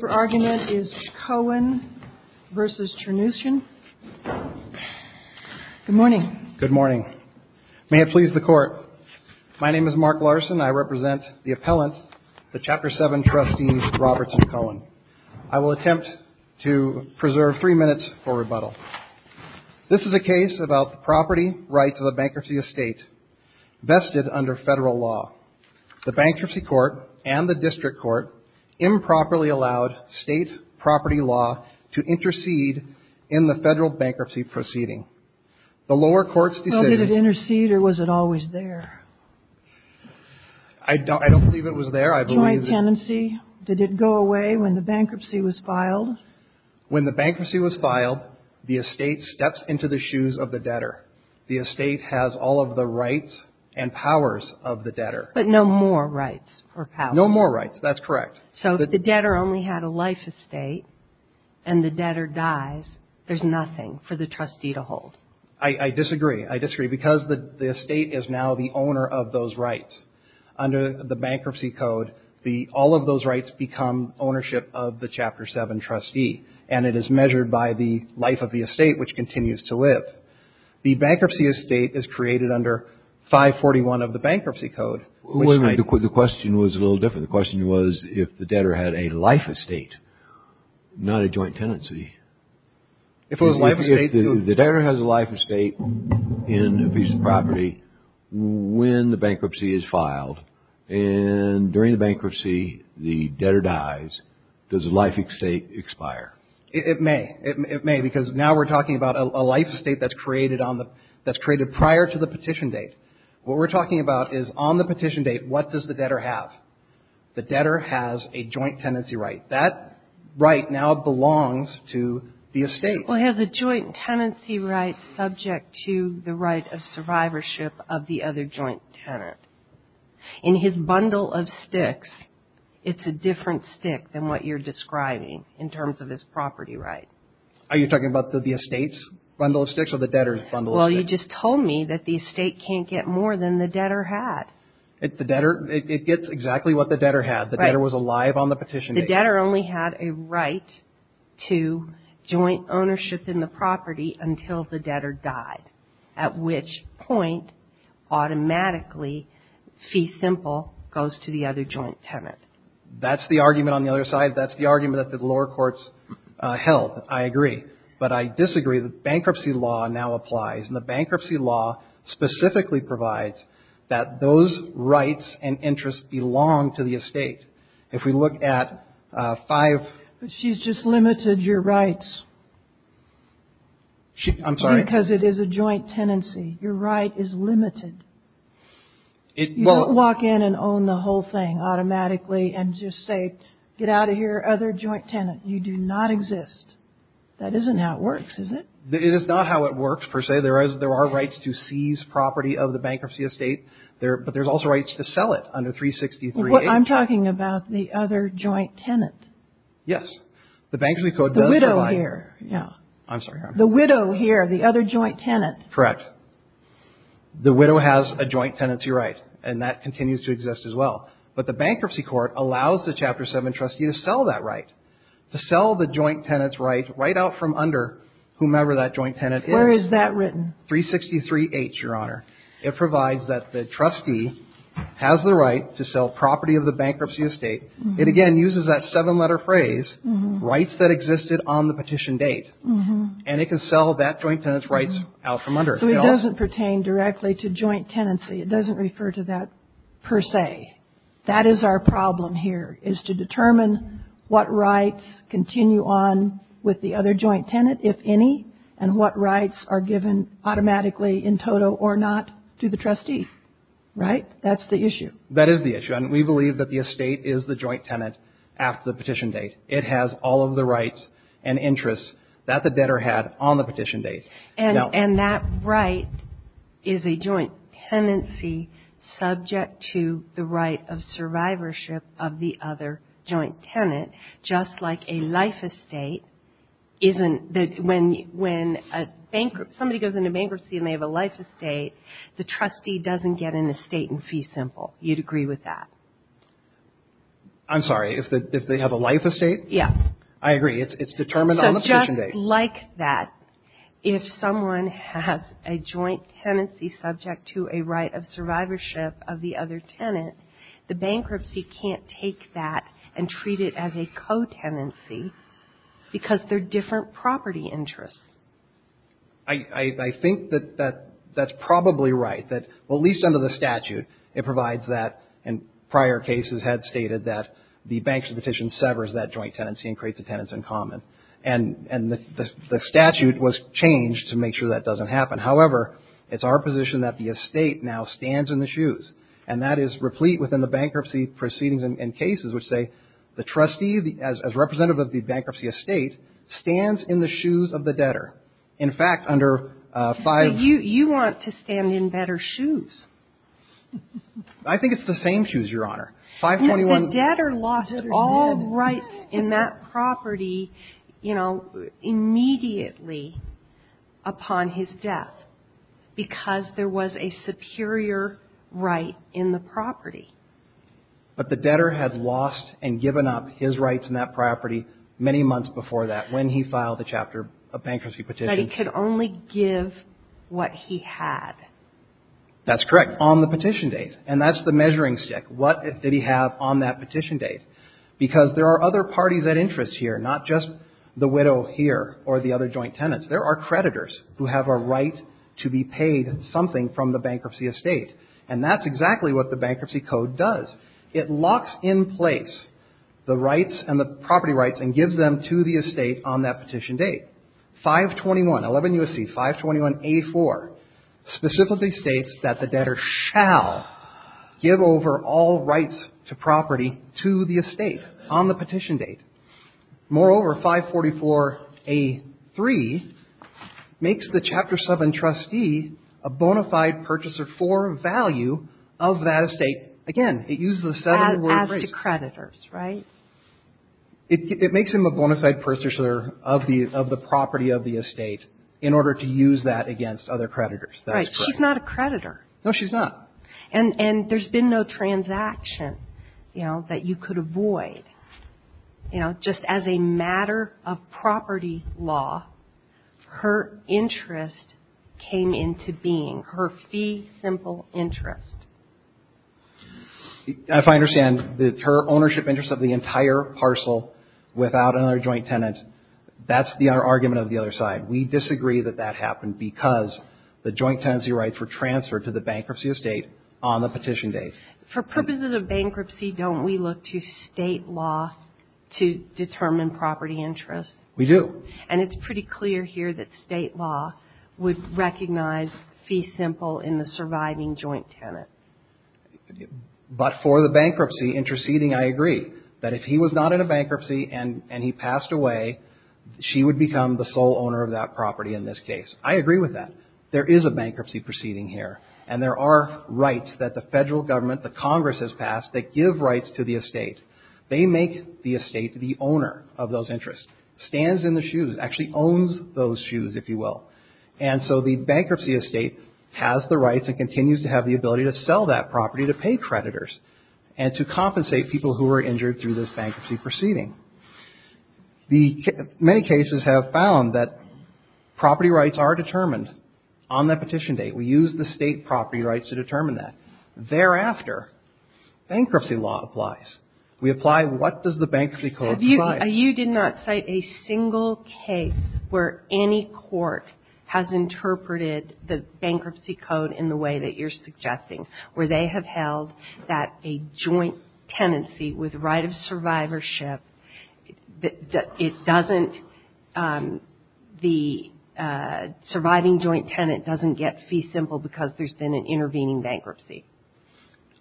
The argument is Cohen v. Chernushin. Good morning. Good morning. May it please the court. My name is Mark Larson, I represent the appellant, the Chapter 7 Trustee Robertson Cohen. I will attempt to preserve three minutes for rebuttal. This is a case about the property rights of the bankruptcy estate, vested under Federal law. The bankruptcy court and the district court improperly allowed state property law to intercede in the Federal bankruptcy proceeding. The lower court's decision... Well, did it intercede or was it always there? I don't believe it was there, I believe... Joint tenancy, did it go away when the bankruptcy was filed? When the bankruptcy was filed, the estate steps into the shoes of the debtor. The estate has all of the rights and powers of the debtor. But no more rights or powers. No more rights, that's correct. So if the debtor only had a life estate, and the debtor dies, there's nothing for the trustee to hold. I disagree, I disagree, because the estate is now the owner of those rights. Under the bankruptcy code, all of those rights become ownership of the Chapter 7 trustee, and it is measured by the life of the estate, which continues to live. The bankruptcy estate is created under 541 of the bankruptcy code. The question was a little different. The question was if the debtor had a life estate, not a joint tenancy. If the debtor has a life estate in a piece of property, when the bankruptcy is filed, and during the bankruptcy the debtor dies, does the life estate expire? It may. It may, because now we're talking about a life estate that's created prior to the petition date. What we're talking about is on the petition date, what does the debtor have? The debtor has a joint tenancy right. That right now belongs to the estate. Well, he has a joint tenancy right subject to the right of survivorship of the other joint tenant. In his bundle of sticks, it's a different stick than what you're describing in terms of his property right. Are you talking about the estate's bundle of sticks or the debtor's bundle of sticks? Well, you just told me that the estate can't get more than the debtor had. It gets exactly what the debtor had. The debtor was alive on the petition date. The debtor only had a right to joint ownership in the property until the debtor died, at which point automatically fee simple goes to the other joint tenant. That's the argument on the other side. That's the argument that the lower courts held. I agree. But I disagree. The bankruptcy law now applies. And the bankruptcy law specifically provides that those rights and interests belong to the estate. If we look at five. She's just limited your rights. I'm sorry. Because it is a joint tenancy. Your right is limited. You don't walk in and own the whole thing automatically and just say, get out of here, other joint tenant. You do not exist. That isn't how it works, is it? It is not how it works, per se. There are rights to seize property of the bankruptcy estate. But there's also rights to sell it under 363A. I'm talking about the other joint tenant. Yes. The bankruptcy code does provide. The widow here. Yeah. Under another joint tenant. Correct. The widow has a joint tenancy right. And that continues to exist as well. But the bankruptcy court allows the Chapter 7 trustee to sell that right. To sell the joint tenant's right right out from under whomever that joint tenant is. Where is that written? 363H, Your Honor. It provides that the trustee has the right to sell property of the bankruptcy estate. It, again, uses that seven-letter phrase, rights that existed on the petition date. And it can sell that joint tenant's rights out from under it. So it doesn't pertain directly to joint tenancy. It doesn't refer to that, per se. That is our problem here, is to determine what rights continue on with the other joint tenant, if any, and what rights are given automatically in toto or not to the trustee. Right? That's the issue. That is the issue. And we believe that the estate is the joint tenant after the petition date. It has all of the rights and interests that the debtor had on the petition date. And that right is a joint tenancy subject to the right of survivorship of the other joint tenant, just like a life estate isn't the – when somebody goes into bankruptcy and they have a life estate, the trustee doesn't get an estate in fee simple. You'd agree with that? I'm sorry. If they have a life estate? Yes. I agree. It's determined on the petition date. So just like that, if someone has a joint tenancy subject to a right of survivorship of the other tenant, the bankruptcy can't take that and treat it as a co-tenancy because they're different property interests. I think that that's probably right. Well, at least under the statute it provides that, and prior cases had stated that, the bankruptcy petition severs that joint tenancy and creates a tenants in common. And the statute was changed to make sure that doesn't happen. However, it's our position that the estate now stands in the shoes, and that is replete within the bankruptcy proceedings and cases which say the trustee, as representative of the bankruptcy estate, stands in the shoes of the debtor. In fact, under five – So you want to stand in better shoes. I think it's the same shoes, Your Honor. 521 – The debtor lost all rights in that property, you know, immediately upon his death because there was a superior right in the property. But the debtor had lost and given up his rights in that property many months before that, when he filed the chapter of bankruptcy petition. And that he could only give what he had. That's correct. On the petition date. And that's the measuring stick. What did he have on that petition date? Because there are other parties at interest here, not just the widow here or the other joint tenants. There are creditors who have a right to be paid something from the bankruptcy estate. And that's exactly what the Bankruptcy Code does. It locks in place the rights and the property rights and gives them to the estate on that petition date. 521, 11 U.S.C., 521A4, specifically states that the debtor shall give over all rights to property to the estate on the petition date. Moreover, 544A3 makes the Chapter 7 trustee a bona fide purchaser for value of that estate. Again, it uses the seven-word phrase. As to creditors, right? It makes him a bona fide purchaser of the property of the estate in order to use that against other creditors. Right. She's not a creditor. No, she's not. And there's been no transaction, you know, that you could avoid. You know, just as a matter of property law, her interest came into being, her fee simple interest. If I understand, her ownership interest of the entire parcel without another joint tenant, that's the argument of the other side. We disagree that that happened because the joint tenancy rights were transferred to the bankruptcy estate on the petition date. For purposes of bankruptcy, don't we look to state law to determine property interest? We do. And it's pretty clear here that state law would recognize fee simple in the surviving joint tenant. But for the bankruptcy interceding, I agree, that if he was not in a bankruptcy and he passed away, she would become the sole owner of that property in this case. I agree with that. There is a bankruptcy proceeding here. And there are rights that the federal government, the Congress has passed, that give rights to the estate. They make the estate the owner of those interests. Stands in the shoes. Actually owns those shoes, if you will. And so the bankruptcy estate has the rights and continues to have the ability to sell that property to pay creditors and to compensate people who were injured through this bankruptcy proceeding. Many cases have found that property rights are determined on that petition date. We use the state property rights to determine that. Thereafter, bankruptcy law applies. We apply what does the bankruptcy code provide. You did not cite a single case where any court has interpreted the bankruptcy code in the way that you're suggesting, where they have held that a joint tenancy with right of survivorship, it doesn't, the surviving joint tenant doesn't get fee simple because there's been an intervening bankruptcy.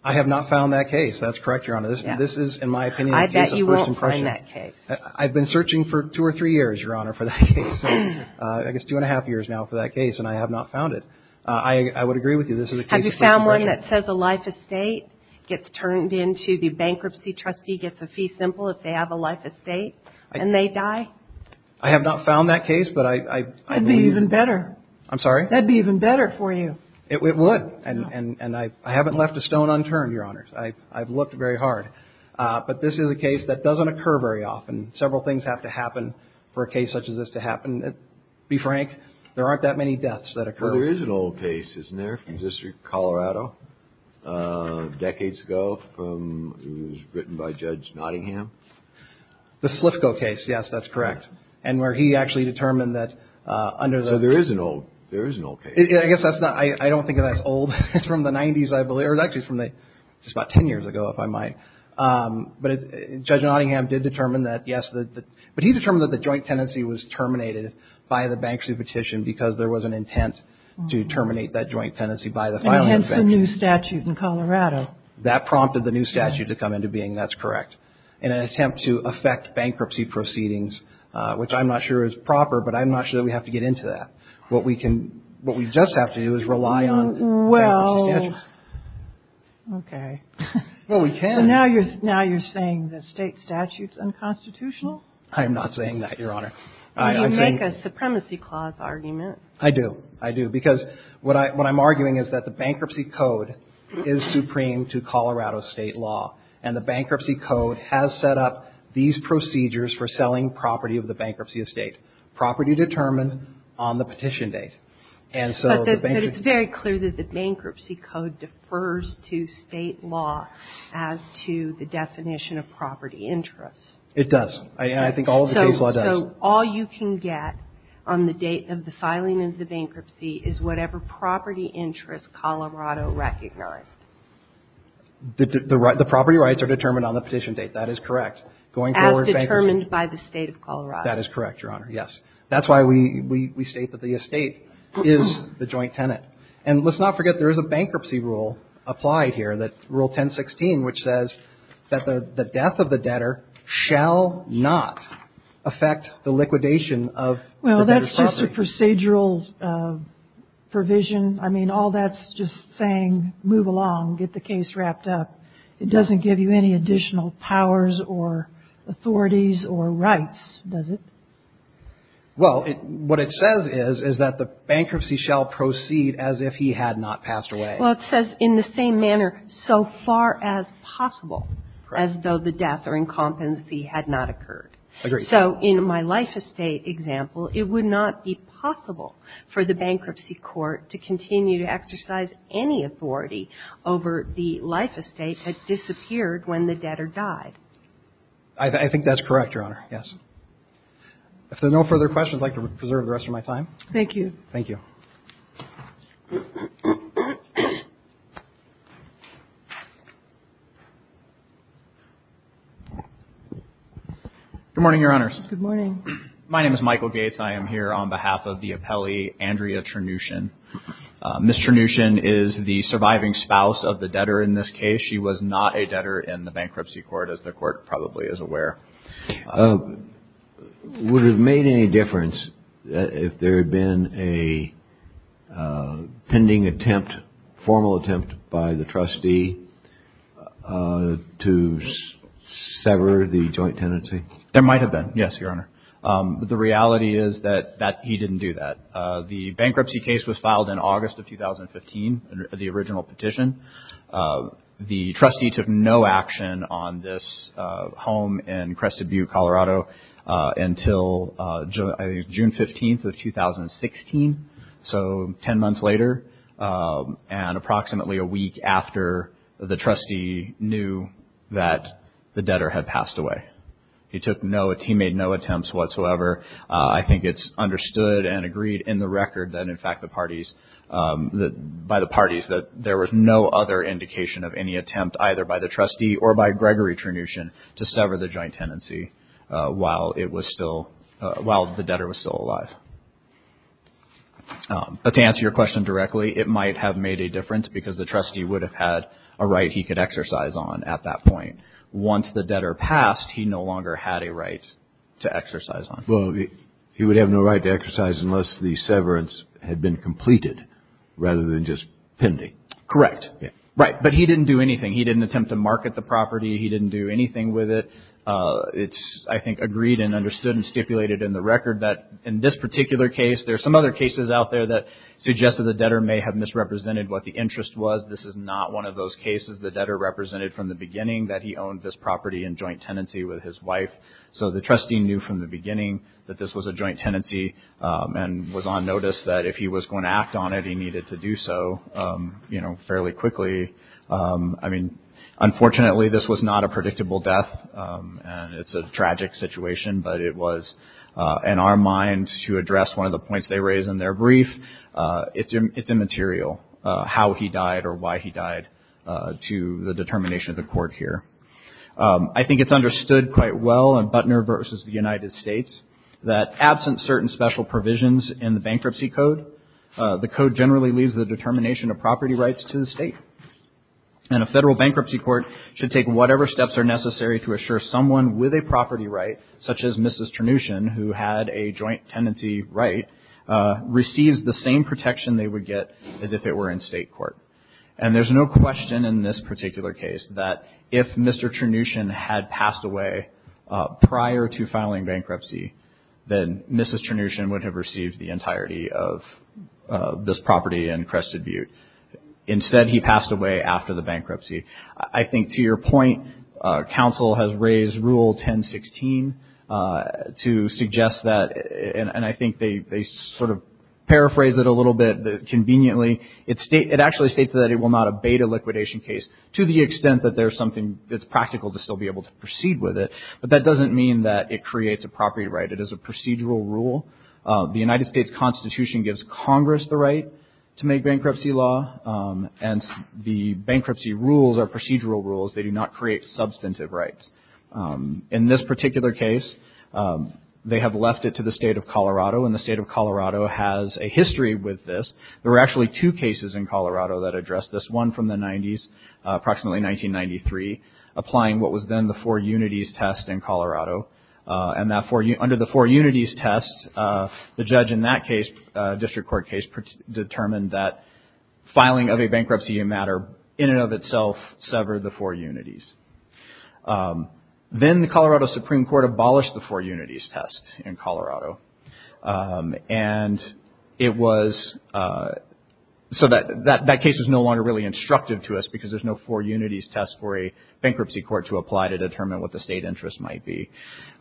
I have not found that case. That's correct, Your Honor. This is, in my opinion, a case of first impression. I have not found that case. I've been searching for two or three years, Your Honor, for that case. I guess two and a half years now for that case, and I have not found it. I would agree with you. This is a case of first impression. Have you found one that says a life estate gets turned into the bankruptcy trustee gets a fee simple if they have a life estate, and they die? I have not found that case, but I believe. That would be even better. I'm sorry? That would be even better for you. It would. And I haven't left a stone unturned, Your Honor. I've looked very hard. But this is a case that doesn't occur very often. Several things have to happen for a case such as this to happen. To be frank, there aren't that many deaths that occur. Well, there is an old case, isn't there, from the District of Colorado decades ago. It was written by Judge Nottingham. The Slifco case, yes, that's correct, and where he actually determined that under the – So there is an old case. I guess that's not – I don't think that's old. It's from the 90s, I believe, or it's actually from just about 10 years ago, if I might. But Judge Nottingham did determine that, yes, but he determined that the joint tenancy was terminated by the bankruptcy petition because there was an intent to terminate that joint tenancy by the final invention. And hence the new statute in Colorado. That prompted the new statute to come into being. That's correct. In an attempt to affect bankruptcy proceedings, which I'm not sure is proper, but I'm not sure that we have to get into that. What we can – what we just have to do is rely on – Well, okay. Well, we can. So now you're saying the state statute's unconstitutional? I am not saying that, Your Honor. You make a supremacy clause argument. I do. I do. Because what I'm arguing is that the bankruptcy code is supreme to Colorado state law, and the bankruptcy code has set up these procedures for selling property of the bankruptcy estate, property determined on the petition date. And so the bankruptcy – But it's very clear that the bankruptcy code defers to state law as to the definition of property interest. It does. And I think all of the case law does. So all you can get on the date of the filing of the bankruptcy is whatever property interest Colorado recognized. The property rights are determined on the petition date. That is correct. As determined by the State of Colorado. That is correct, Your Honor, yes. That's why we state that the estate is the joint tenant. And let's not forget there is a bankruptcy rule applied here, that – Rule 1016, which says that the death of the debtor shall not affect the liquidation of the debtor's property. Well, that's just a procedural provision. I mean, all that's just saying move along, get the case wrapped up. It doesn't give you any additional powers or authorities or rights, does it? Well, what it says is, is that the bankruptcy shall proceed as if he had not passed away. Well, it says in the same manner, so far as possible, as though the death or incumbency had not occurred. Agreed. So in my life estate example, it would not be possible for the bankruptcy court to continue to exercise any authority over the life estate that disappeared when the debtor died. I think that's correct, Your Honor, yes. If there are no further questions, I'd like to preserve the rest of my time. Thank you. Thank you. Good morning, Your Honors. Good morning. My name is Michael Gates. I am here on behalf of the appellee, Andrea Trenutian. Ms. Trenutian is the surviving spouse of the debtor in this case. Would it have made any difference if there had been a pending attempt, formal attempt by the trustee to sever the joint tenancy? There might have been, yes, Your Honor. But the reality is that he didn't do that. The bankruptcy case was filed in August of 2015, the original petition. The trustee took no action on this home in Crested Butte, Colorado, until June 15th of 2016, so ten months later, and approximately a week after the trustee knew that the debtor had passed away. He took no, he made no attempts whatsoever. I think it's understood and agreed in the record that, in fact, by the parties that there was no other indication of any attempt either by the trustee or by Gregory Trenutian to sever the joint tenancy while it was still, while the debtor was still alive. But to answer your question directly, it might have made a difference because the trustee would have had a right he could exercise on at that point. Once the debtor passed, he no longer had a right to exercise on. Well, he would have no right to exercise unless the severance had been completed rather than just pending. Correct. Right. But he didn't do anything. He didn't attempt to market the property. He didn't do anything with it. It's, I think, agreed and understood and stipulated in the record that in this particular case, there are some other cases out there that suggested the debtor may have misrepresented what the interest was. This is not one of those cases. The debtor represented from the beginning that he owned this property in joint tenancy with his wife, so the trustee knew from the beginning that this was a joint tenancy and was on notice that if he was going to act on it, he needed to do so, you know, fairly quickly. I mean, unfortunately, this was not a predictable death, and it's a tragic situation, but it was in our minds to address one of the points they raised in their brief. It's immaterial how he died or why he died to the determination of the court here. I think it's understood quite well in Butner versus the United States that absent certain special provisions in the bankruptcy code, the code generally leaves the determination of property rights to the state, and a federal bankruptcy court should take whatever steps are necessary to assure someone with a property right, such as Mrs. Ternushin, who had a joint tenancy right, receives the same protection they would get as if it were in state court. And there's no question in this particular case that if Mr. Ternushin had passed away prior to filing bankruptcy, then Mrs. Ternushin would have received the entirety of this property in Crested Butte. Instead, he passed away after the bankruptcy. I think to your point, counsel has raised Rule 1016 to suggest that, and I think they sort of paraphrase it a little bit conveniently. It actually states that it will not abate a liquidation case to the extent that there's something that's practical to still be able to proceed with it, but that doesn't mean that it creates a property right. It is a procedural rule. The United States Constitution gives Congress the right to make bankruptcy law, and the bankruptcy rules are procedural rules. They do not create substantive rights. In this particular case, they have left it to the state of Colorado, and the state of Colorado has a history with this. There were actually two cases in Colorado that addressed this, one from the 90s, approximately 1993, applying what was then the four unities test in Colorado. And under the four unities test, the judge in that case, district court case, determined that filing of a bankruptcy matter in and of itself severed the four unities. Then the Colorado Supreme Court abolished the four unities test in Colorado, and it was so that that case is no longer really instructive to us because there's no four unities test for a bankruptcy court to apply to determine what the state interest might be.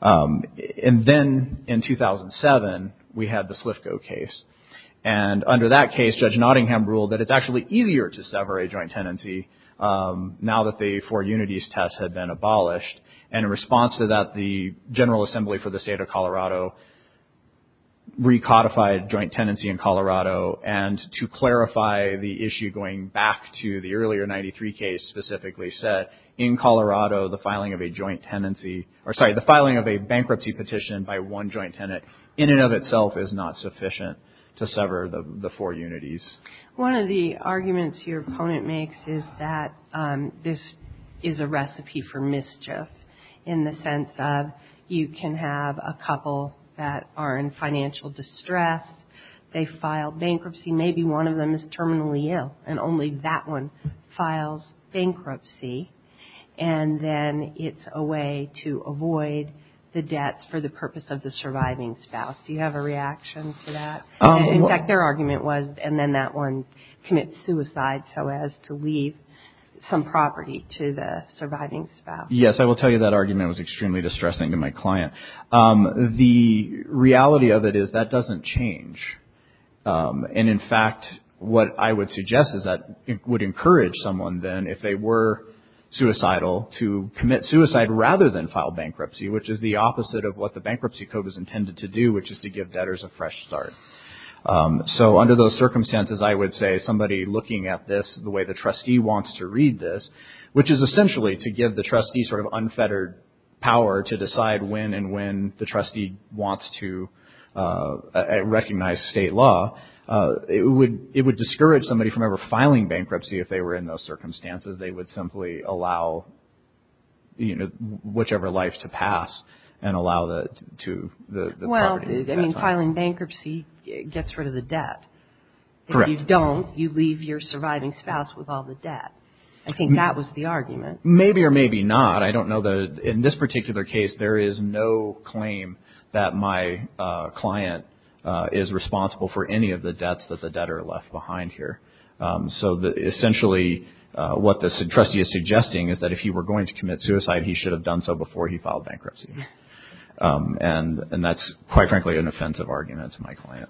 And then in 2007, we had the Slifco case, and under that case, Judge Nottingham ruled that it's actually easier to sever a joint tenancy now that the four unities test had been abolished, and in response to that, the General Assembly for the State of Colorado recodified joint tenancy in Colorado. And to clarify the issue going back to the earlier 93 case specifically set, in Colorado, the filing of a bankruptcy petition by one joint tenant in and of itself is not sufficient to sever the four unities. One of the arguments your opponent makes is that this is a recipe for mischief in the sense of you can have a couple that are in financial distress. They file bankruptcy. Maybe one of them is terminally ill, and only that one files bankruptcy, and then it's a way to avoid the debts for the purpose of the surviving spouse. Do you have a reaction to that? In fact, their argument was, and then that one commits suicide so as to leave some property to the surviving spouse. Yes, I will tell you that argument was extremely distressing to my client. The reality of it is that doesn't change. And in fact, what I would suggest is that it would encourage someone then, if they were suicidal, to commit suicide rather than file bankruptcy, which is the opposite of what the Bankruptcy Code is intended to do, which is to give debtors a fresh start. So under those circumstances, I would say somebody looking at this the way the trustee wants to read this, which is essentially to give the trustee sort of unfettered power to decide when and when the trustee wants to recognize state law, it would discourage somebody from ever filing bankruptcy if they were in those circumstances. They would simply allow whichever life to pass and allow that to the property. Well, filing bankruptcy gets rid of the debt. Correct. If you don't, you leave your surviving spouse with all the debt. I think that was the argument. Maybe or maybe not. I don't know. In this particular case, there is no claim that my client is responsible for any of the debts that the debtor left behind here. So essentially what the trustee is suggesting is that if he were going to commit suicide, he should have done so before he filed bankruptcy. And that's, quite frankly, an offensive argument to my client.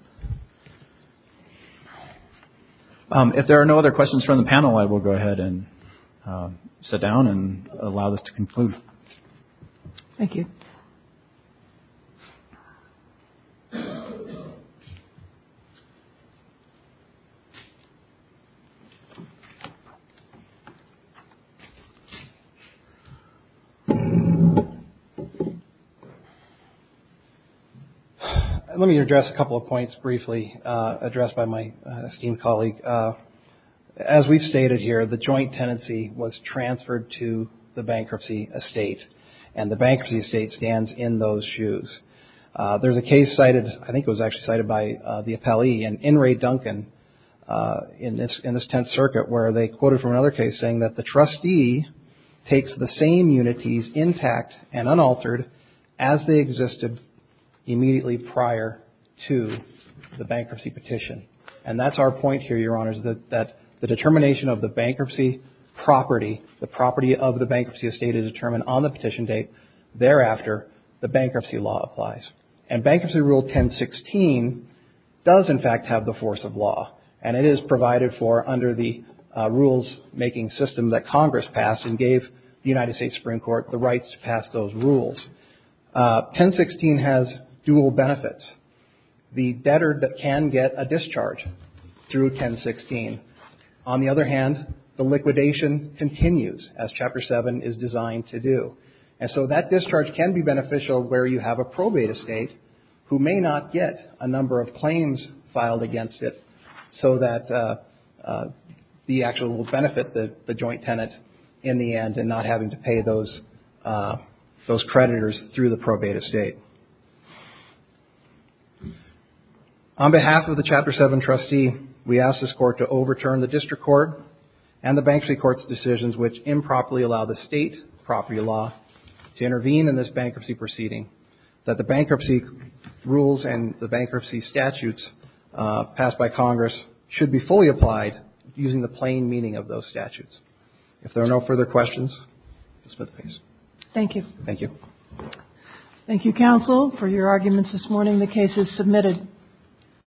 If there are no other questions from the panel, I will go ahead and sit down and allow this to conclude. Thank you. Let me address a couple of points briefly addressed by my esteemed colleague. As we've stated here, the joint tenancy was transferred to the bankruptcy estate, and the bankruptcy estate stands in those shoes. There's a case cited, I think it was actually cited by the appellee, in Ray Duncan in this Tenth Circuit where they quoted from another case saying that the trustee takes the same unities intact and unaltered as they existed immediately prior to the bankruptcy petition. And that's our point here, Your Honors, that the determination of the bankruptcy property, the property of the bankruptcy estate is determined on the petition date. Thereafter, the bankruptcy law applies. And Bankruptcy Rule 1016 does, in fact, have the force of law. And it is provided for under the rules-making system that Congress passed and gave the United States Supreme Court the rights to pass those rules. 1016 has dual benefits. The debtor can get a discharge through 1016. On the other hand, the liquidation continues as Chapter 7 is designed to do. And so that discharge can be beneficial where you have a probate estate who may not get a number of claims filed against it so that the actual benefit, the joint tenant, in the end, and not having to pay those creditors through the probate estate. On behalf of the Chapter 7 trustee, we ask this Court to overturn the District Court and the Bankruptcy Court's decisions which improperly allow the state property law to intervene in this bankruptcy proceeding, that the bankruptcy rules and the bankruptcy statutes passed by Congress should be fully applied using the plain meaning of those statutes. If there are no further questions, I'll submit the case. Thank you. Thank you. Thank you, Counsel, for your arguments this morning. The case is submitted.